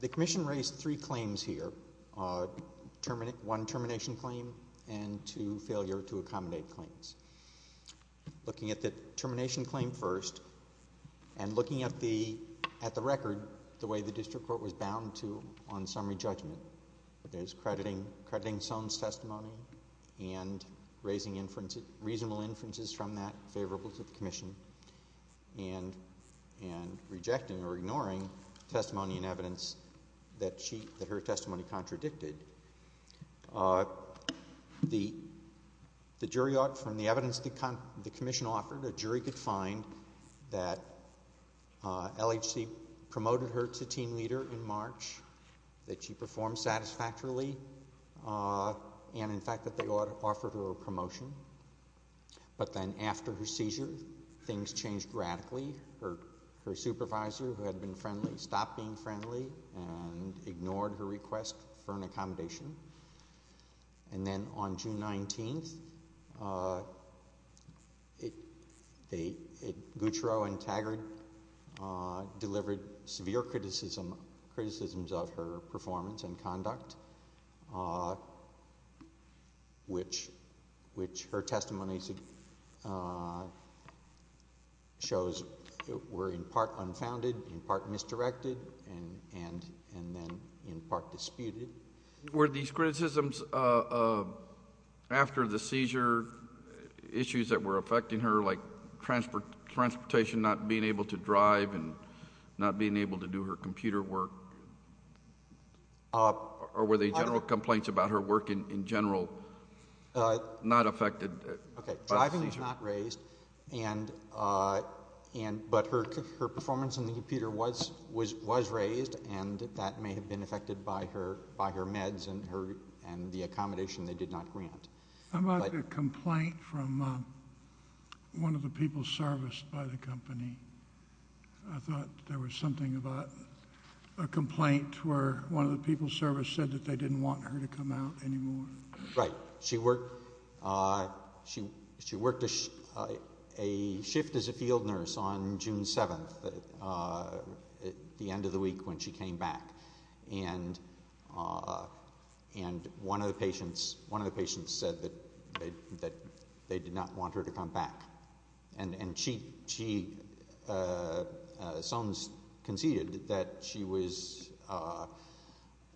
The Commission raised three claims here, one termination claim and two failure to accommodate claims. Looking at the termination claim first and looking at the record, the way the District Court was bound to on summary judgment, there's crediting Soane's testimony and raising reasonable inferences from that favorable to the Commission, and rejecting or ignoring testimony and evidence that her testimony contradicted. The jury, from the evidence the Commission offered, a jury could find that LHC promoted her to team leader in March, that she performed satisfactorily, and in fact that they offered her a promotion. But then after her seizure, things changed radically. Her supervisor, who had been friendly, stopped being friendly and ignored her request for an accommodation. And then on June 19th, Guccaro and Taggart delivered severe criticisms of her performance and conduct, which her testimony shows were in part unfounded, in part misdirected, and then in part disputed. Were these criticisms after the seizure issues that were affecting her, like transportation, not being able to drive, and not being able to do her computer work, or were they general complaints about her work in general not affected by the seizure? Okay. Driving was not raised, but her performance on the computer was raised, and that may have been affected by her meds and the accommodation they did not grant. I'm about to get a complaint from one of the people serviced by the company. I thought there was something about a complaint where one of the people serviced said that they didn't want her to come out anymore. Right. She worked a shift as a field nurse on June 7th, at the end of the week when she came back, and one of the patients said that they did not want her to come back, and she conceded that she was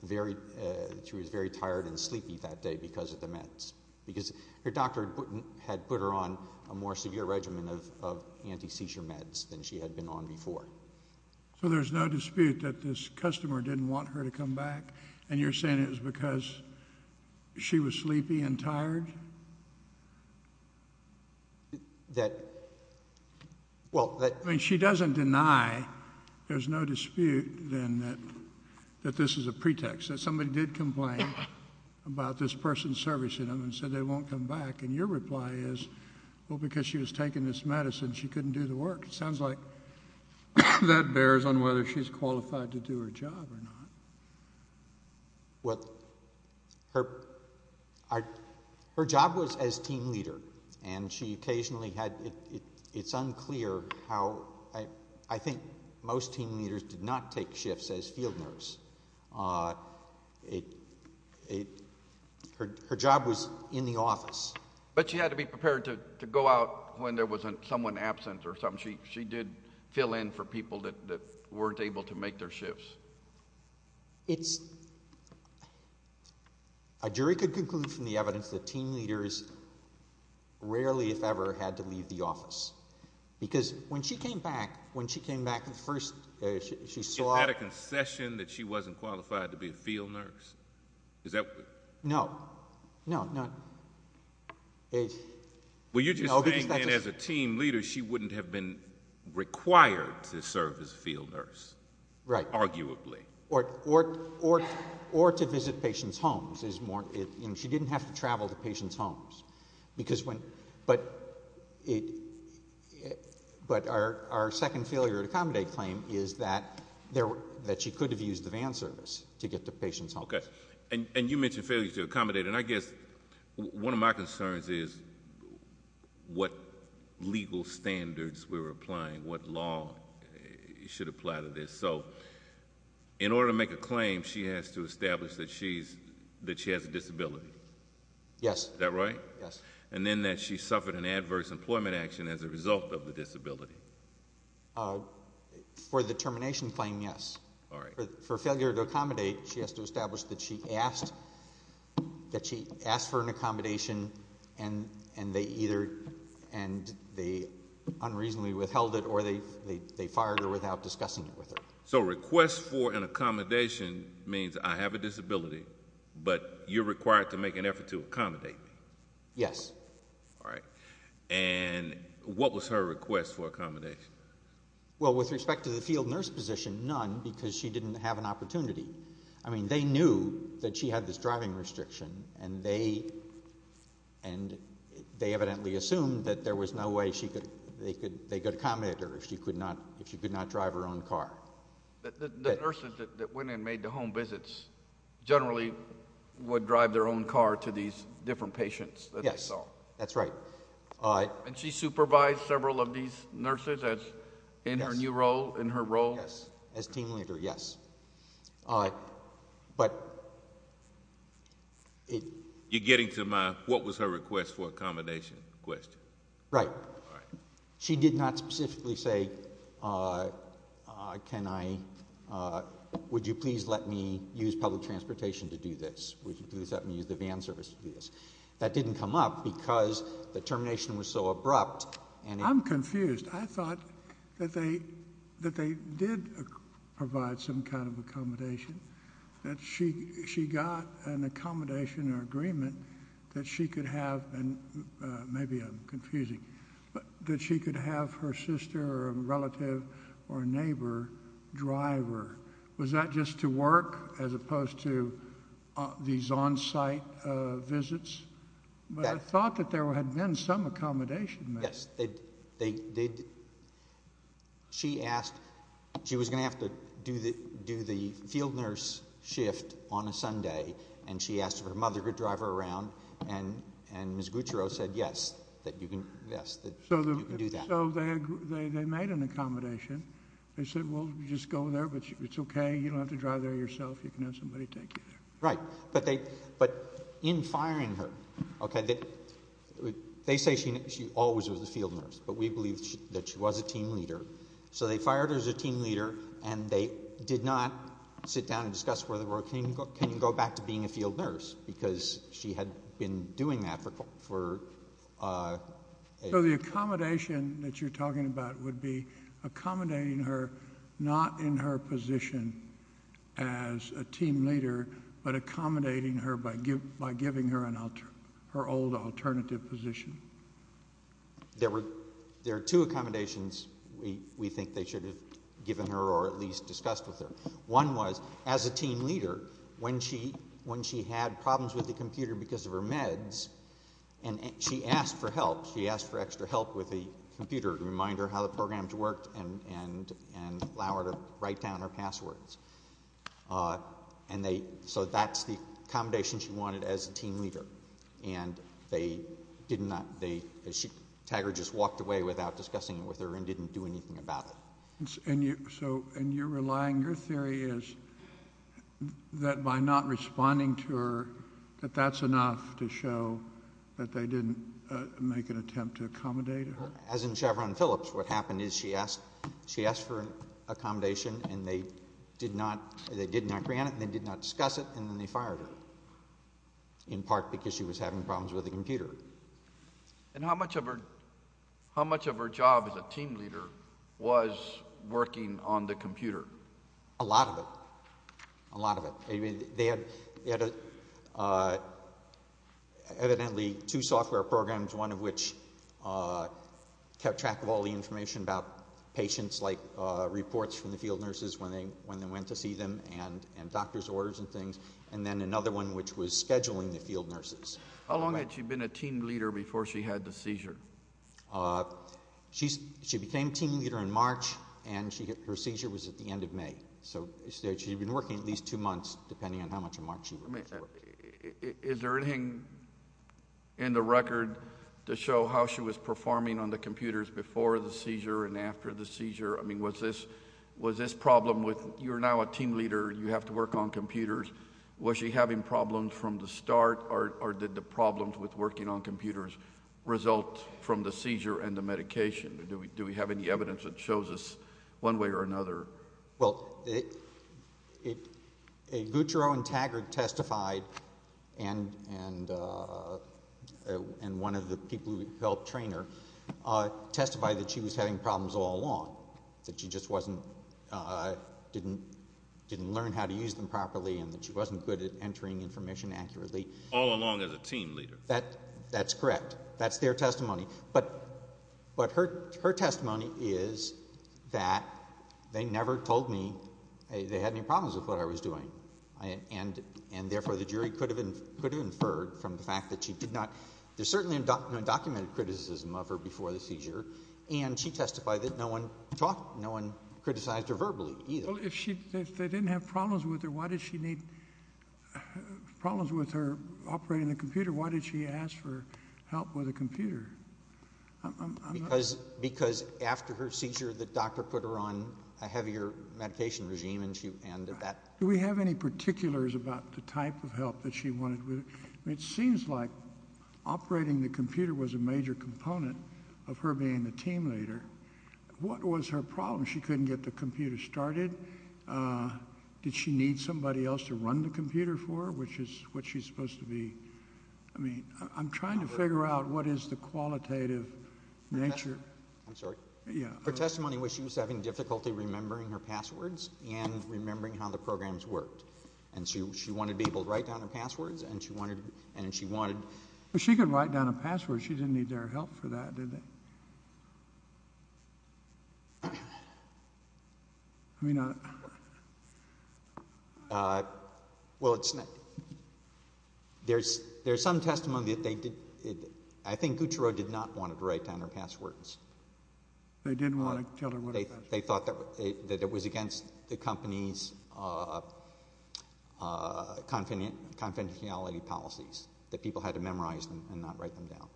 very tired and sleepy that day because of the meds, because her doctor had put her on a more severe regimen of anti-seizure meds than she had been on before. So there's no dispute that this customer didn't want her to come back, and you're saying it was because she was sleepy and tired? That, well, that... I mean, she doesn't deny, there's no dispute then that this is a pretext, that somebody did complain about this person servicing them and said they won't come back, and your reply is, well, because she was taking this medicine, she couldn't do the work. Sounds like that bears on whether she's qualified to do her job or not. Well, her job was as team leader, and she occasionally had... it's unclear how... I think most team leaders did not take shifts as field nurse. Her job was in the office. But she had to be prepared to go out when there was someone absent or something. She did fill in for people that weren't able to make their shifts. It's... a jury could conclude from the evidence that team leaders rarely, if ever, had to leave the office, because when she came back, when she came back, the first... She had a concession that she wasn't qualified to be a field nurse? Is that... No. No. No. It's... Well, you're just saying, then, as a team leader, she wouldn't have been required to serve as a field nurse, arguably. Right. Or to visit patients' homes is more... she didn't have to travel to patients' homes. But our second failure to accommodate claim is that she could have used the van service to get to patients' homes. Okay. And you mentioned failure to accommodate. And I guess one of my concerns is what legal standards we're applying, what law should apply to this. So, in order to make a claim, she has to establish that she has a disability? Yes. Is that right? Yes. And then that she suffered an adverse employment action as a result of the disability? For the termination claim, yes. All right. For failure to accommodate, she has to establish that she asked for an accommodation, and they either... and they unreasonably withheld it, or they fired her without discussing it with her. So, a request for an accommodation means I have a disability, but you're required to make an effort to accommodate me? Yes. All right. And what was her request for accommodation? Well, with respect to the field nurse position, none, because she didn't have an opportunity. I mean, they knew that she had this driving restriction, and they evidently assumed that there was no way they could accommodate her if she could not drive her own car. The nurses that went and made the home visits generally would drive their own car to these different patients that they saw? Yes. That's right. And she supervised several of these nurses in her new role, in her role? Yes. As team leader, yes. But... You're getting to my what was her request for accommodation question. Right. All right. She did not specifically say, can I... would you please let me use public transportation to do this? Would you please let me use the van service to do this? That didn't come up because the termination was so abrupt, and... I'm confused. I thought that they did provide some kind of accommodation, that she got an accommodation or agreement that she could have, and maybe I'm confusing, that she could have her sister or a relative or a neighbor drive her. Was that just to work, as opposed to these on-site visits? But I thought that there had been some accommodation made. Yes. She asked... she was going to have to do the field nurse shift on a Sunday, and she asked if her mother could drive her around, and Ms. Gutierrez said yes, that you can do that. So they made an accommodation. They said, well, you just go there, but it's okay, you don't have to drive there yourself, you can have somebody take you there. Right. But in firing her, okay, they say she always was a field nurse, but we believe that she was a team leader, so they fired her as a team leader, and they did not sit down and discuss whether or not can you go back to being a field nurse, because she had been doing that for... So the accommodation that you're talking about would be accommodating her not in her position as a team leader, but accommodating her by giving her her old alternative position. There were two accommodations we think they should have given her or at least discussed with her. One was, as a team leader, when she had problems with the computer because of her meds, and she asked for help. She asked for extra help with the computer to remind her how the programs worked and allow her to write down her passwords. So that's the accommodation she wanted as a team leader, and they did not... Taggart just walked away without discussing it with her and didn't do anything about it. And you're relying... your theory is that by not responding to her, that that's enough to show that they didn't make an attempt to accommodate her? As in Chevron Phillips, what happened is she asked for an accommodation, and they did not grant it, and they did not discuss it, and then they fired her, in part because she was having problems with the computer. And how much of her job as a team leader was working on the computer? A lot of it. A lot of it. They had evidently two software programs, one of which kept track of all the information about patients, like reports from the field nurses when they went to see them, and doctor's orders and things, and then another one which was scheduling the field nurses. How long had she been a team leader before she had the seizure? She became team leader in March, and her seizure was at the end of May. So she had been working at least two months, depending on how much of March she worked. Is there anything in the record to show how she was performing on the computers before the seizure and after the seizure? I mean, was this problem with, you're now a team leader, you have to work on computers, was she having problems from the start, or did the problems with working on computers result from the seizure and the medication? Do we have any evidence that shows us one way or another? Well, Gutierrez and Taggart testified, and one of the people who helped train her, testified that she was having problems all along, that she just wasn't, didn't learn how to use them properly and that she wasn't good at entering information accurately. All along as a team leader? That's correct. That's their testimony. But her testimony is that they never told me they had any problems with what I was doing, and therefore the jury could have inferred from the fact that she did not, there's certainly undocumented criticism of her before the seizure, and she testified that no one talked, no one criticized her verbally either. Well, if she, if they didn't have problems with her, why did she need, problems with her operating the computer? Why did she ask for help with a computer? Because after her seizure, the doctor put her on a heavier medication regime, and she, and that. Do we have any particulars about the type of help that she wanted? It seems like operating the computer was a major component of her being the team leader. What was her problem? She couldn't get the computer started. Did she need somebody else to run the computer for her, which is what she's supposed to be, I mean, I'm trying to figure out what is the qualitative nature. I'm sorry. Yeah. Her testimony was she was having difficulty remembering her passwords and remembering how the programs worked, and she, she wanted to be able to write down her passwords, and she wanted, and she wanted. She could write down a password. She didn't need their help for that, did she? I mean, I, well, it's not, there's, there's some testimony that they did, I think Gucciro did not want her to write down her passwords. They didn't want to tell her what a password was? They thought that it was against the company's confidentiality policies, that people had to memorize them and not write them down.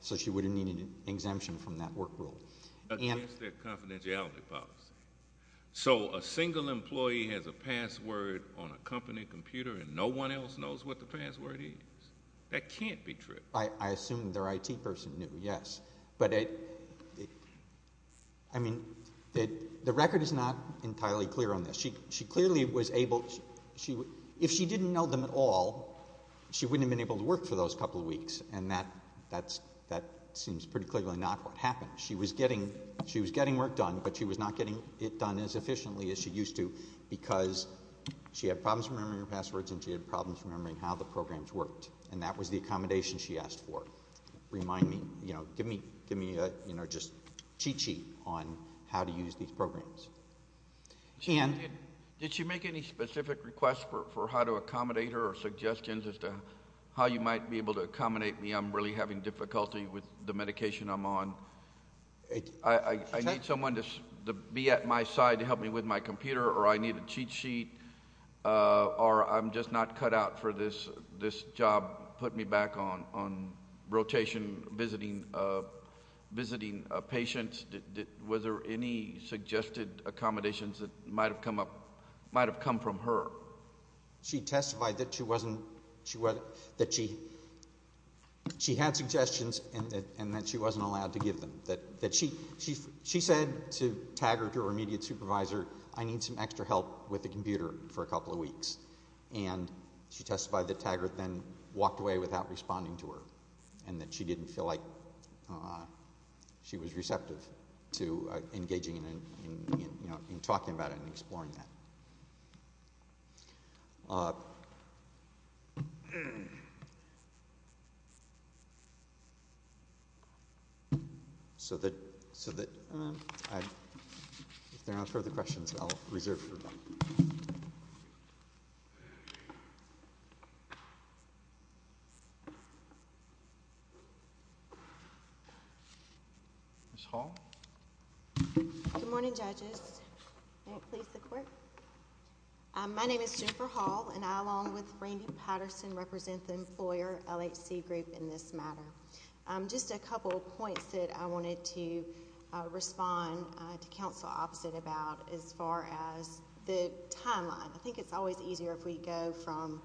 So she wouldn't need an exemption from that work rule. Against their confidentiality policy. So a single employee has a password on a company computer and no one else knows what the password is? That can't be true. I, I assume their IT person knew, yes, but it, I mean, the record is not entirely clear on this. She, she clearly was able, she, if she didn't know them at all, she wouldn't have been able to work for those couple of weeks. And that, that's, that seems pretty clearly not what happened. She was getting, she was getting work done, but she was not getting it done as efficiently as she used to because she had problems remembering her passwords and she had problems remembering how the programs worked. And that was the accommodation she asked for, remind me, you know, give me, give me a, you know, just cheat sheet on how to use these programs. Ann? Did she make any specific requests for, for how to accommodate her or suggestions as to how you might be able to accommodate me? I'm really having difficulty with the medication I'm on. I need someone to be at my side to help me with my computer or I need a cheat sheet or I'm just not cut out for this, this job, put me back on, on rotation, visiting, visiting patients. Was there any suggested accommodations that might've come up, might've come from her? She testified that she wasn't, she wasn't, that she, she had suggestions and that, and that she wasn't allowed to give them, that, that she, she, she said to Taggart, her immediate supervisor, I need some extra help with the computer for a couple of weeks. And she testified that Taggart then walked away without responding to her and that she didn't feel like she was receptive to engaging in, in, in, you know, in talking about it and exploring that. So that, so that I, if there aren't further questions, I'll reserve it for now. Ms. Hall? Good morning, judges. May it please the court. My name is Jennifer Hall and I, along with Randy Patterson, represent the employer, LHC Group, in this matter. Just a couple of points that I wanted to respond to counsel opposite about as far as the timeline. I think it's always easier if we go from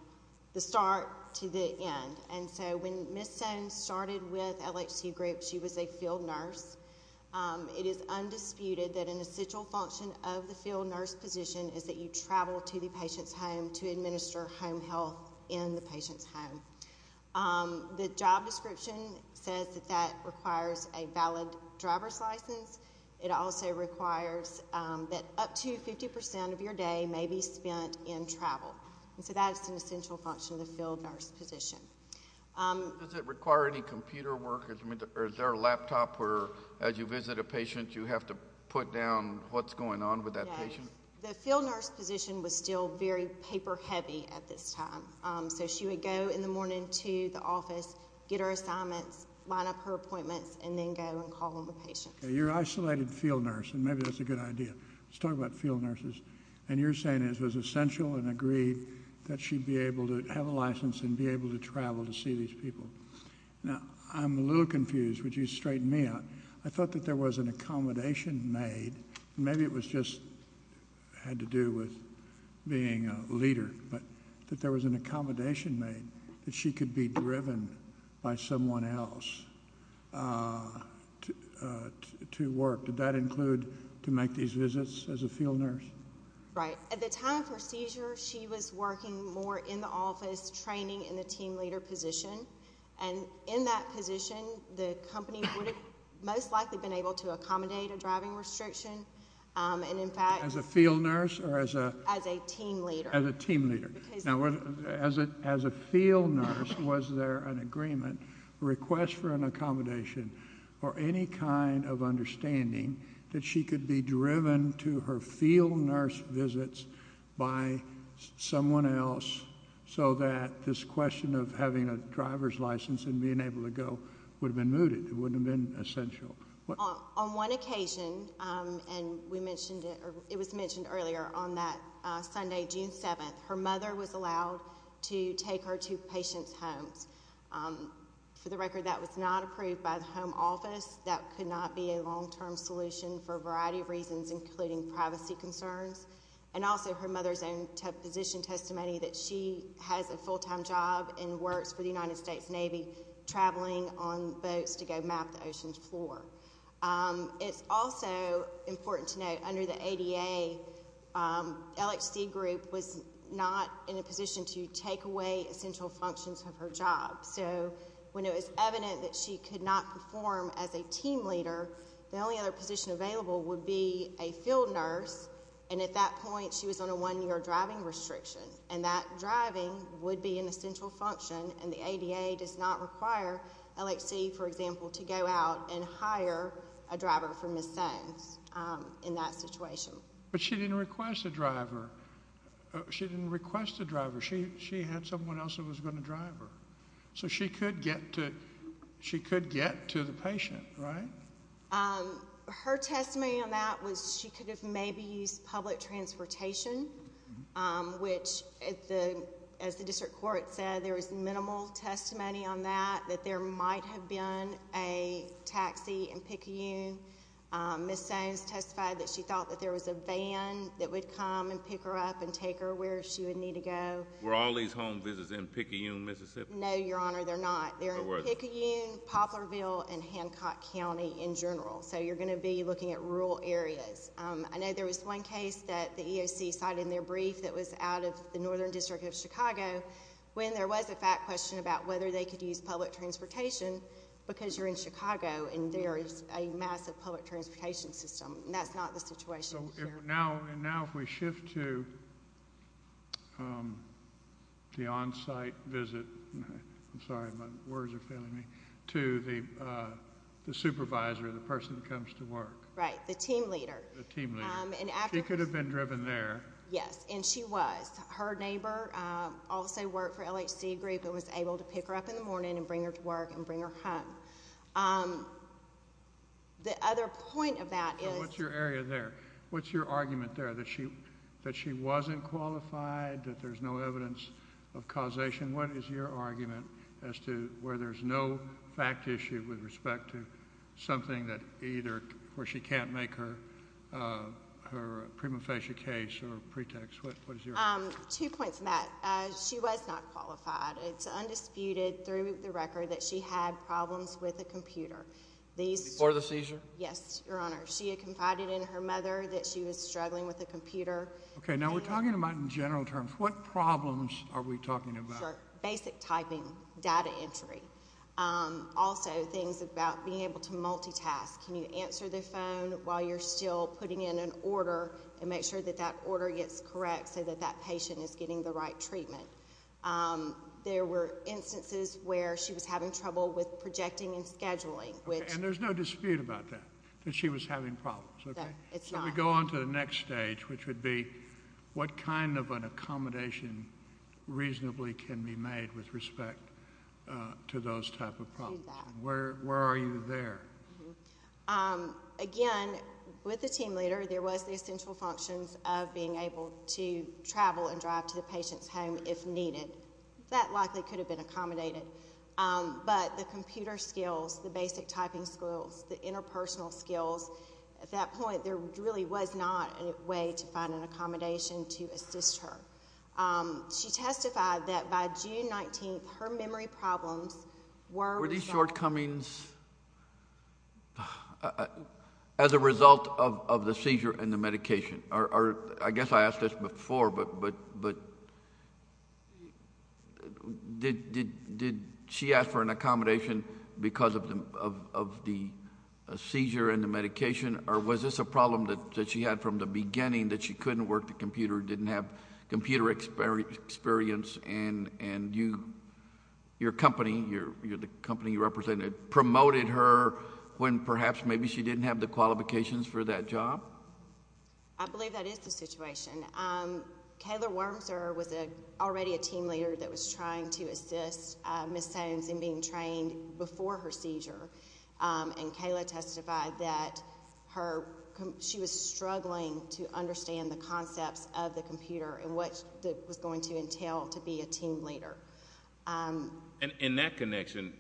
the start to the end. And so when Ms. Stone started with LHC Group, she was a field nurse. It is undisputed that an essential function of the field nurse position is that you travel to the patient's home to administer home health in the patient's home. The job description says that that requires a valid driver's license. It also requires that up to 50% of your day may be spent in travel. And so that is an essential function of the field nurse position. Does it require any computer work or is there a laptop where as you visit a patient you have to put down what's going on with that patient? The field nurse position was still very paper heavy at this time. So she would go in the morning to the office, get her assignments, line up her appointments, and then go and call on the patient. You're an isolated field nurse and maybe that's a good idea. Let's talk about field nurses. And you're saying it was essential and agreed that she'd be able to have a license and be able to travel to see these people. Now, I'm a little confused, would you straighten me out? I thought that there was an accommodation made. Maybe it just had to do with being a leader, but that there was an accommodation made that she could be driven by someone else to work. Did that include to make these visits as a field nurse? Right. At the time of her seizure, she was working more in the office, training in the team leader position. And in that position, the company would have most likely been able to accommodate a driving restriction. And in fact... As a field nurse or as a... As a team leader. As a team leader. Now, as a field nurse, was there an agreement, request for an accommodation, or any kind of understanding that she could be driven to her field nurse visits by someone else so that this question of having a driver's license and being able to go would have been mooted. It wouldn't have been essential. On one occasion, and we mentioned it... It was mentioned earlier on that Sunday, June 7th, her mother was allowed to take her to patient's homes. For the record, that was not approved by the home office. That could not be a long-term solution for a variety of reasons, including privacy concerns. And also, her mother's own position testimony that she has a full-time job and works for the United States Navy, traveling on boats to go map the ocean's floor. It's also important to note, under the ADA, LHC group was not in a position to take away essential functions of her job. So, when it was evident that she could not perform as a team leader, the only other position available would be a field nurse. And at that point, she was on a one-year driving restriction. And that driving would be an essential function. And the ADA does not require LHC, for example, to go out and hire a driver for Ms. Sands in that situation. But she didn't request a driver. She didn't request a driver. She had someone else who was going to drive her. So, she could get to the patient, right? Her testimony on that was she could have maybe used public transportation, which, as the district court said, there was minimal testimony on that, that there might have been a taxi in Picayune. Ms. Sands testified that she thought that there was a van that would come and pick her up and take her where she would need to go. Were all these home visits in Picayune, Mississippi? No, Your Honor. They're not. They're in Picayune, Poplarville, and Hancock County in general. So, you're going to be looking at rural areas. I know there was one case that the EOC cited in their brief that was out of the Northern District of Chicago when there was a fact question about whether they could use public transportation because you're in Chicago and there is a massive public transportation system. And that's not the situation here. Now, if we shift to the on-site visit, I'm sorry, my words are failing me, to the supervisor, the person that comes to work. Right. The team leader. The team leader. She could have been driven there. Yes, and she was. Her neighbor also worked for LHC group and was able to pick her up in the morning and bring her to work and bring her home. The other point of that is… What's your area there? What's your argument there that she wasn't qualified, that there's no evidence of causation? What is your argument as to where there's no fact issue with respect to something that either where she can't make her prima facie case or pretext? What is your… Two points, Matt. She was not qualified. It's undisputed through the record that she had problems with a computer. Before the seizure? Yes, Your Honor. She had confided in her mother that she was struggling with a computer. Okay. Now, we're talking about in general terms. What problems are we talking about? Sure. Basic typing, data entry. Also, things about being able to multitask. Can you answer the phone while you're still putting in an order and make sure that that order gets correct so that that patient is getting the right treatment? There were instances where she was having trouble with projecting and scheduling, which… She was having problems, okay? It's not… Shall we go on to the next stage, which would be what kind of an accommodation reasonably can be made with respect to those type of problems? Exactly. Where are you there? Again, with the team leader, there was the essential functions of being able to travel and drive to the patient's home if needed. That likely could have been accommodated, but the computer skills, the basic typing skills, the interpersonal skills, at that point, there really was not a way to find an accommodation to assist her. She testified that by June 19th, her memory problems were… Were these shortcomings as a result of the seizure and the medication? I guess I asked this before, but did she ask for an accommodation because of the seizure and the medication, or was this a problem that she had from the beginning that she couldn't work the computer, didn't have computer experience, and your company, the company you represented, promoted her when perhaps maybe she didn't have the qualifications for that job? I believe that is the situation. Kayla Wormser was already a team leader that was trying to assist Ms. Sones in being trained before her seizure, and Kayla testified that she was struggling to understand the concepts of the computer and what it was going to entail to be a team leader. In that connection,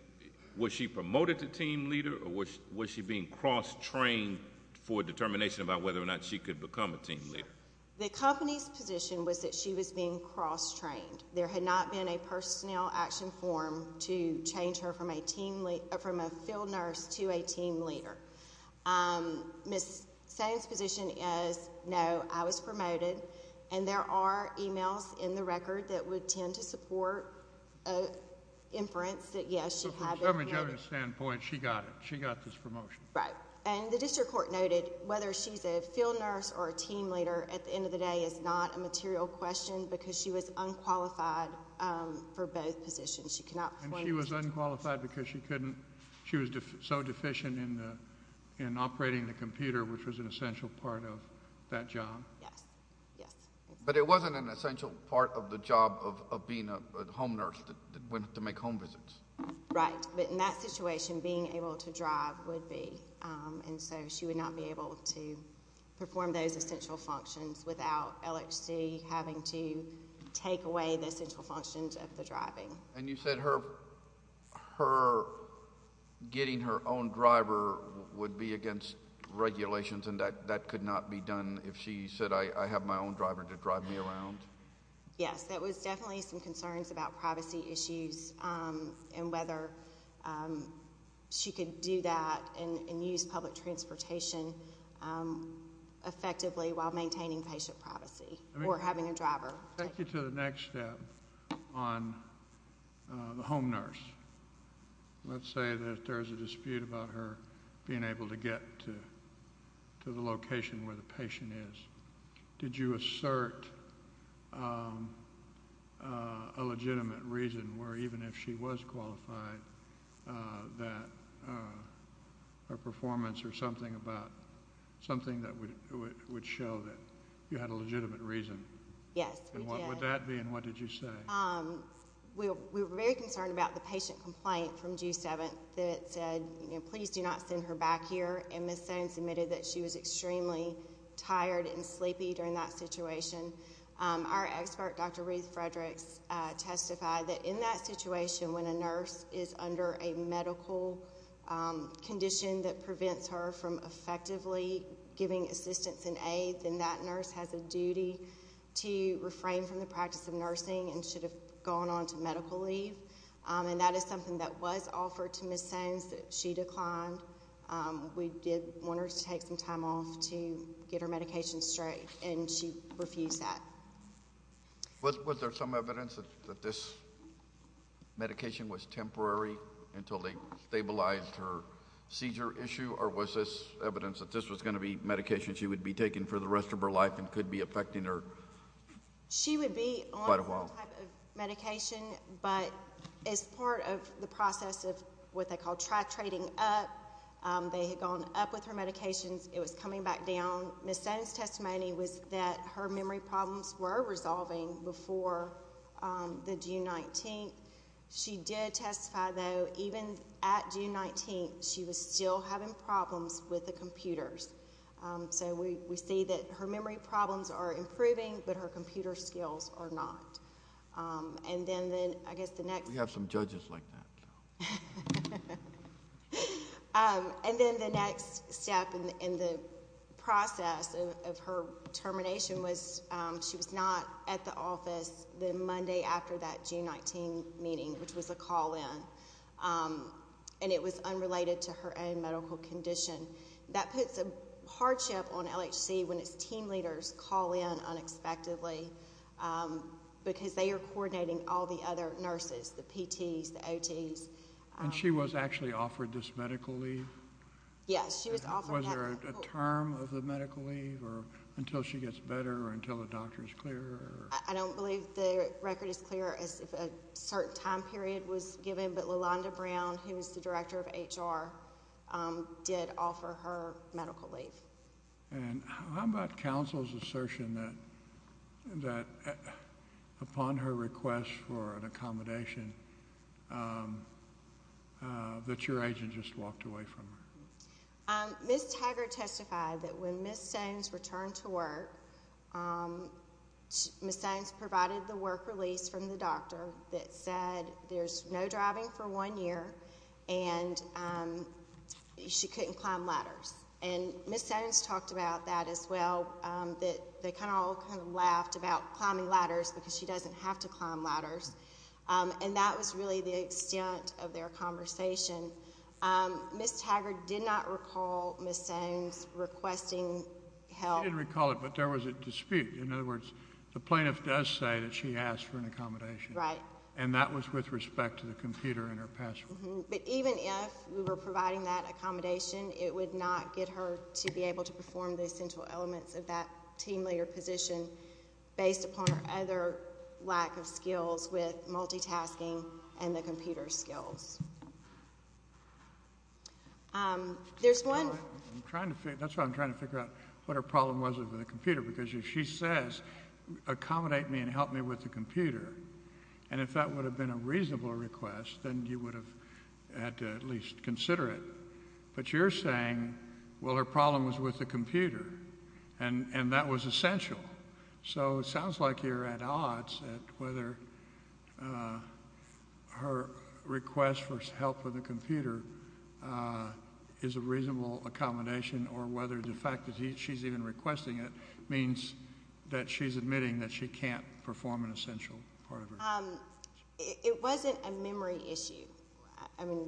was she promoted to team leader, or was she being cross-trained for determination about whether or not she could become a team leader? The company's position was that she was being cross-trained. There had not been a personnel action form to change her from a field nurse to a team leader. Ms. Sones' position is, no, I was promoted, and there are emails in the record that would tend to support inference that, yes, she had been promoted. So from a government standpoint, she got it. She got this promotion. Right. And the district court noted whether she's a field nurse or a team leader at the end of the day is not a material question because she was unqualified for both positions. She cannot... And she was unqualified because she couldn't... she was so deficient in operating the computer, which was an essential part of that job. Yes. Yes. But it wasn't an essential part of the job of being a home nurse that went to make home visits. Right. But in that situation, being able to drive would be. And so she would not be able to perform those essential functions without LHC having to take away the essential functions of the driving. And you said her getting her own driver would be against regulations, and that could not be done if she said, I have my own driver to drive me around? Yes. That was definitely some concerns about privacy issues and whether she could do that and use public transportation effectively while maintaining patient privacy or having a driver. Take you to the next step on the home nurse. Let's say that there's a dispute about her being able to get to the location where the patient is. Did you assert a legitimate reason where even if she was qualified that her performance or something about... something that would show that you had a legitimate reason? Yes, we did. And what would that be, and what did you say? We were very concerned about the patient complaint from June 7th that said, you know, please do not send her back here. And Ms. Sones admitted that she was extremely tired and sleepy during that situation. Our expert, Dr. Ruth Fredericks, testified that in that situation when a nurse is under a medical condition that prevents her from effectively giving assistance and aid, then that nurse has a duty to refrain from the practice of nursing and should have gone on to medical leave. And that is something that was offered to Ms. Sones. She declined. We did want her to take some time off to get her medication straight, and she refused that. Was there some evidence that this medication was temporary until they stabilized her seizure issue, or was this evidence that this was going to be medication she would be taking for the rest of her life and could be affecting her...... for quite a while. It was temporary medication, but as part of the process of what they call track trading up, they had gone up with her medications. It was coming back down. Ms. Sones' testimony was that her memory problems were resolving before the June 19th. She did testify, though, even at June 19th, she was still having problems with the computers. So we see that her memory problems are improving, but her computer skills are not. And then, I guess the next... We have some judges like that. And then the next step in the process of her termination was she was not at the office the Monday after that June 19th meeting, which was a call in. And it was unrelated to her own medical condition. That puts a hardship on LHC when its team leaders call in unexpectedly, because they are coordinating all the other nurses, the PTs, the OTs. And she was actually offered this medical leave? Yes, she was offered that. Was there a term of the medical leave, or until she gets better, or until the doctor is clear? I don't believe the record is clear as to if a certain time period was given, but LaLonda Brown, who is the director of HR, did offer her medical leave. And how about counsel's assertion that upon her request for an accommodation, that your agent just walked away from her? Ms. Tiger testified that when Ms. Stones returned to work, Ms. Stones provided the work release from the doctor that said there's no driving for one year, and she couldn't climb ladders. And Ms. Stones talked about that as well, that they kind of all kind of laughed about climbing ladders because she doesn't have to climb ladders. And that was really the extent of their conversation. Ms. Tiger did not recall Ms. Stones requesting help? She didn't recall it, but there was a dispute. In other words, the plaintiff does say that she asked for an accommodation. Right. And that was with respect to the computer and her password. But even if we were providing that accommodation, it would not get her to be able to perform the essential elements of that team leader position based upon her other lack of skills with multitasking and the computer skills. There's one— That's why I'm trying to figure out what her problem was with the computer, because if she says accommodate me and help me with the computer, and if that would have been a reasonable request, then you would have had to at least consider it. But you're saying, well, her problem was with the computer, and that was essential. So it sounds like you're at odds at whether her request for help with the computer is a reasonable accommodation, or whether the fact that she's even requesting it means that she's admitting that she can't perform an essential part of her job. It wasn't a memory issue. I mean,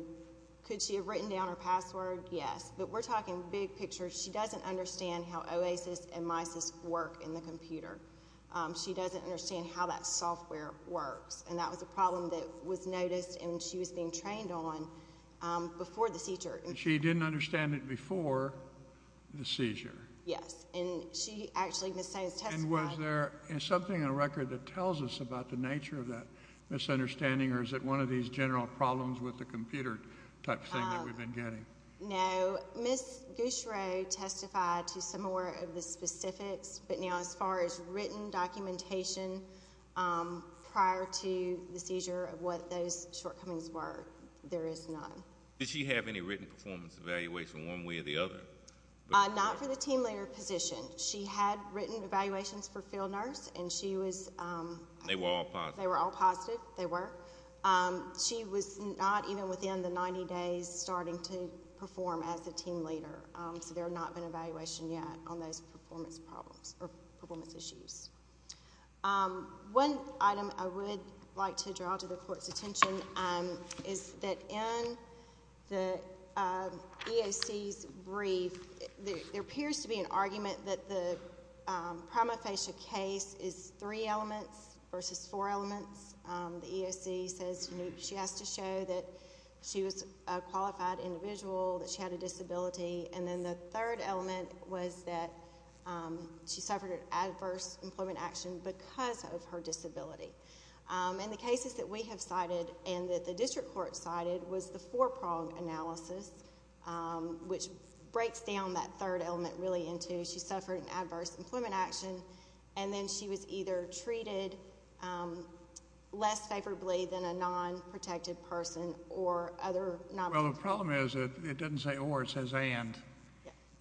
could she have written down her password? Yes. But we're talking big picture. She doesn't understand how OASIS and MISIS work in the computer. She doesn't understand how that software works. And that was a problem that was noticed and she was being trained on before the seizure. And she didn't understand it before the seizure. Yes. And she actually, Ms. Staines testified— And was there something in the record that tells us about the nature of that misunderstanding, or is it one of these general problems with the computer type thing that we've been getting? No. Ms. Gushereau testified to some more of the specifics, but now as far as written documentation prior to the seizure of what those shortcomings were, there is none. Did she have any written performance evaluation one way or the other? Not for the team leader position. She had written evaluations for field nurse and she was— They were all positive. They were all positive. They were. She was not even within the 90 days starting to perform as a team leader, so there had not been an evaluation yet on those performance problems or performance issues. One item I would like to draw to the Court's attention is that in the EOC's brief, there appears to be an argument that the prima facie case is three elements versus four elements. The EOC says she has to show that she was a qualified individual, that she had a disability, and then the third element was that she suffered an adverse employment action because of her disability. In the cases that we have cited and that the district court cited was the four-prong analysis, which breaks down that third element really into she suffered an adverse employment action and then she was either treated less favorably than a non-protected person or other— Well, the problem is it doesn't say or, it says and,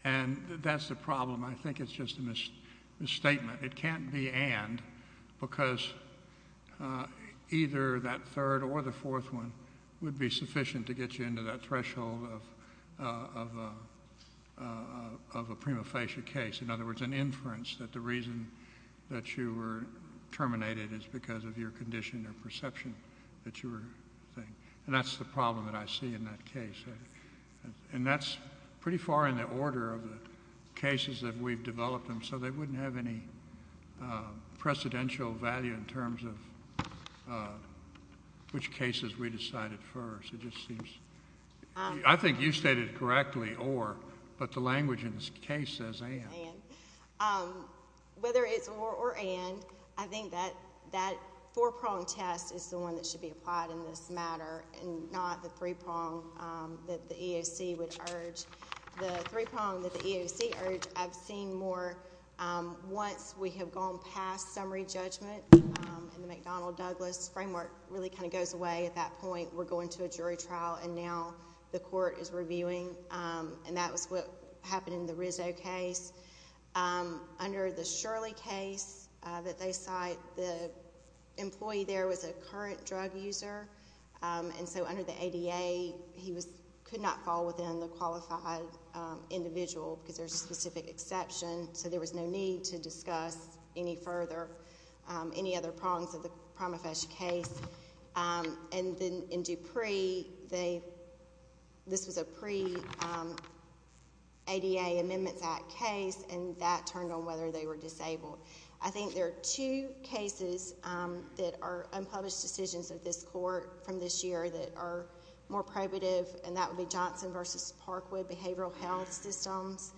and that's the problem. I think it's just a misstatement. It can't be and because either that third or the fourth one would be sufficient to get you into that threshold of a prima facie case. In other words, an inference that the reason that you were terminated is because of your condition or perception that you were—and that's the problem that I see in that case. And that's pretty far in the order of the cases that we've developed them, so they wouldn't have any precedential value in terms of which cases we decided first. It just seems—I think you stated correctly or, but the language in this case says and. Whether it's or or and, I think that that four-prong test is the one that should be applied in this matter and not the three-prong that the EOC would urge. The three-prong that the EOC urged I've seen more once we have gone past summary judgment and the McDonnell-Douglas framework really kind of goes away at that point. We're going to a jury trial and now the court is reviewing and that was what happened in the Rizzo case. Under the Shirley case that they cite, the employee there was a current drug user. And so under the ADA, he could not fall within the qualified individual because there's a specific exception, so there was no need to discuss any further, any other prongs of the prima facie case. And then in Dupree, they, this was a pre-ADA Amendments Act case and that turned on whether they were disabled. I think there are two cases that are unpublished decisions of this court from this year that are more probative and that would be Johnson v. Parkwood behavioral health systems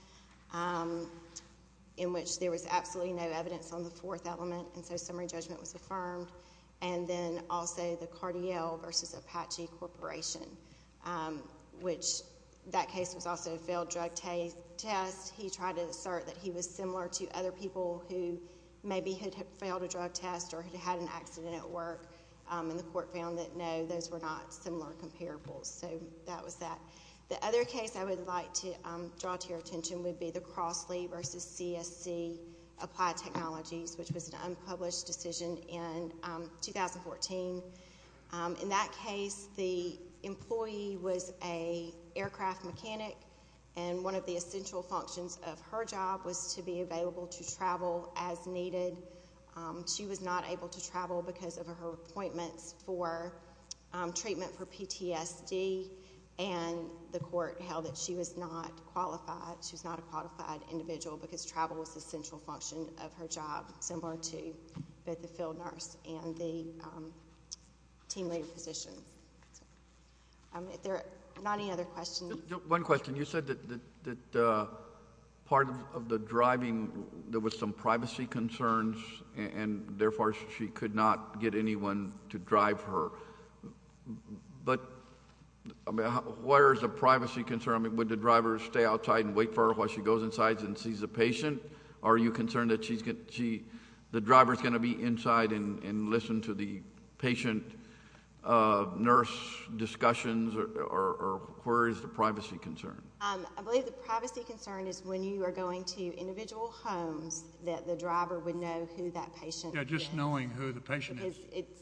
in which there was absolutely no evidence on the fourth element and so summary judgment was affirmed. And then also the Cardiel v. Apache Corporation, which that case was also a failed drug test. He tried to assert that he was similar to other people who maybe had failed a drug test or had had an accident at work and the court found that no, those were not similar comparables. So that was that. The other case I would like to draw to your attention would be the Crossley v. CSC applied technologies, which was an unpublished decision in 2014. In that case, the employee was an aircraft mechanic and one of the essential functions of her job was to be available to travel as needed. She was not able to travel because of her appointments for treatment for PTSD and the court held that she was not qualified, she was not a qualified individual because travel was the central function of her job similar to both the field nurse and the team leader position. Are there not any other questions? One question. You said that part of the driving, there was some privacy concerns and therefore she could not get anyone to drive her. But where is the privacy concern? I mean would the driver stay outside and wait for her while she goes inside and sees the patient? Are you concerned that the driver is going to be inside and listen to the patient nurse discussions or where is the privacy concern? I believe the privacy concern is when you are going to individual homes that the driver would know who that patient is. Yeah, just knowing who the patient is. It's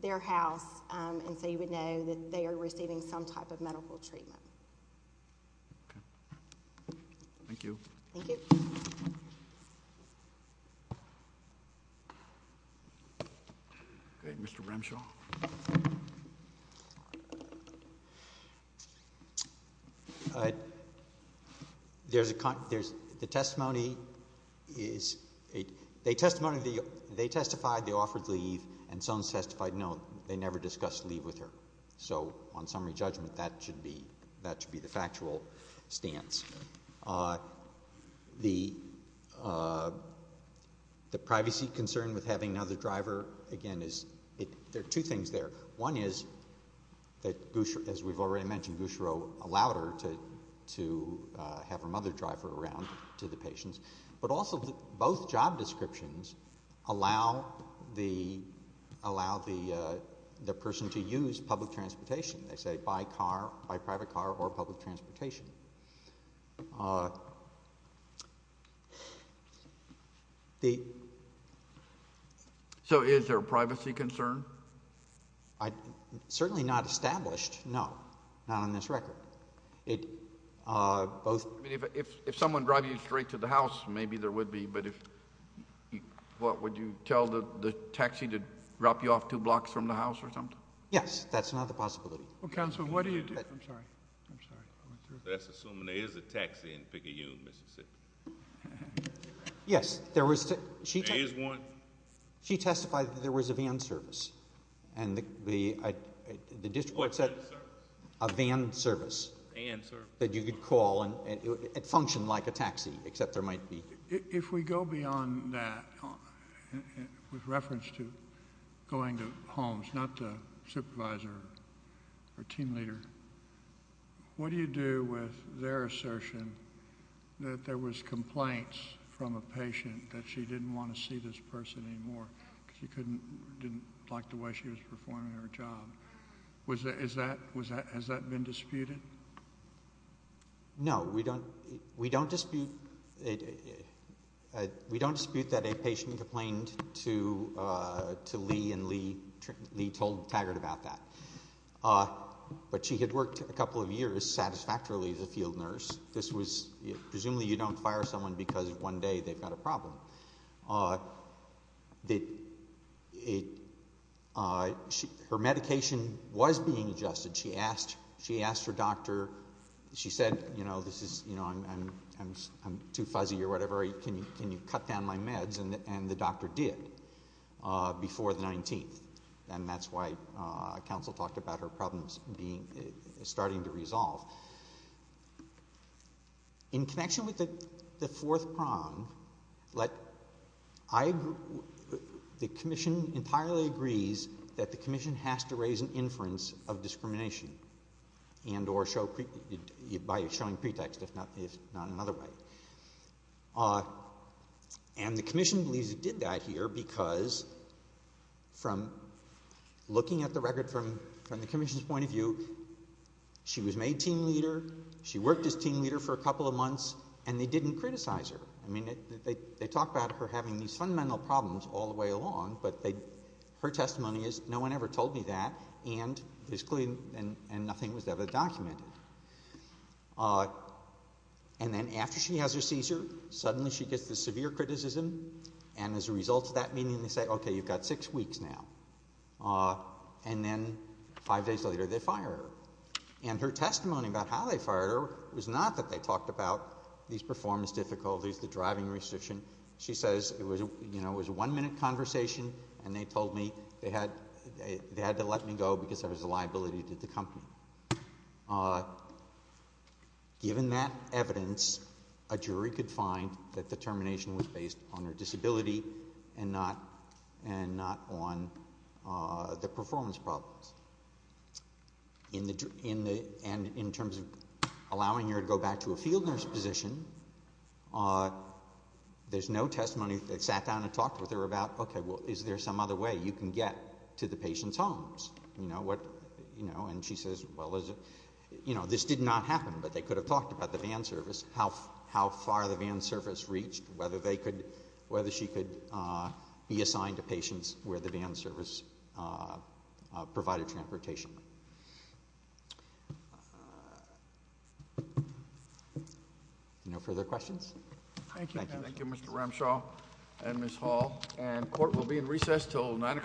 their house and so you would know that they are receiving some type of medical treatment. Okay. Thank you. Thank you. Okay, Mr. Remshaw. The testimony is they testified they offered leave and someone testified no, they never discussed leave with her. So on summary judgment that should be the factual stance. The privacy concern with having another driver, again, there are two things there. One is that, as we've already mentioned, Gushiro allowed her to have another driver around to the patients. But also both job descriptions allow the person to use public transportation. They say by car, by private car or public transportation. So is there a privacy concern? Certainly not established, no. Not on this record. If someone drives you straight to the house, maybe there would be, but would you tell the taxi to drop you off two blocks from the house or something? Yes. That's another possibility. Counsel, what do you do? I'm sorry. I'm sorry. Let's assume there is a taxi in Picayune, Mississippi. Yes. There is one? She testified that there was a van service. What kind of service? A van service. A van service. That you could call and it functioned like a taxi, except there might be. If we go beyond that, with reference to going to homes, not the supervisor or team leader, what do you do with their assertion that there was complaints from a patient that she didn't want to see this person anymore because she didn't like the way she was performing her job? Has that been disputed? No. We don't dispute that a patient complained to Lee and Lee told Taggart about that. But she had worked a couple of years satisfactorily as a field nurse. Presumably you don't fire someone because one day they've got a problem. Her medication was being adjusted. She asked her doctor, she said, I'm too fuzzy or whatever, can you cut down my meds? And the doctor did before the 19th. And that's why counsel talked about her problems starting to resolve. In connection with the fourth prong, the commission entirely agrees that the commission has to raise an inference of discrimination by showing pretext, if not another way. And the commission believes it did that here because from looking at the record from the commission's point of view, she was made team leader, she worked as team leader for a couple of months, and they didn't criticize her. They talk about her having these fundamental problems all the way along, but her testimony is no one ever told me that, and nothing was ever documented. And then after she has her seizure, suddenly she gets this severe criticism, and as a result of that meeting they say, okay, you've got six weeks now. And then five days later they fire her. And her testimony about how they fired her was not that they talked about these performance difficulties, the driving restriction. She says it was a one-minute conversation, and they told me they had to let me go because there was a liability to the company. Given that evidence, a jury could find that the termination was based on her disability and not on the performance problems. And in terms of allowing her to go back to a field nurse position, there's no testimony that sat down and talked with her about, okay, well, is there some other way you can get to the patient's homes? And she says, well, this did not happen, but they could have talked about the van service, how far the van service reached, whether she could be assigned to patients where the van service provided transportation. No further questions? Thank you. Thank you, Mr. Ramshaw and Ms. Hall. And court will be in recess until 9 o'clock.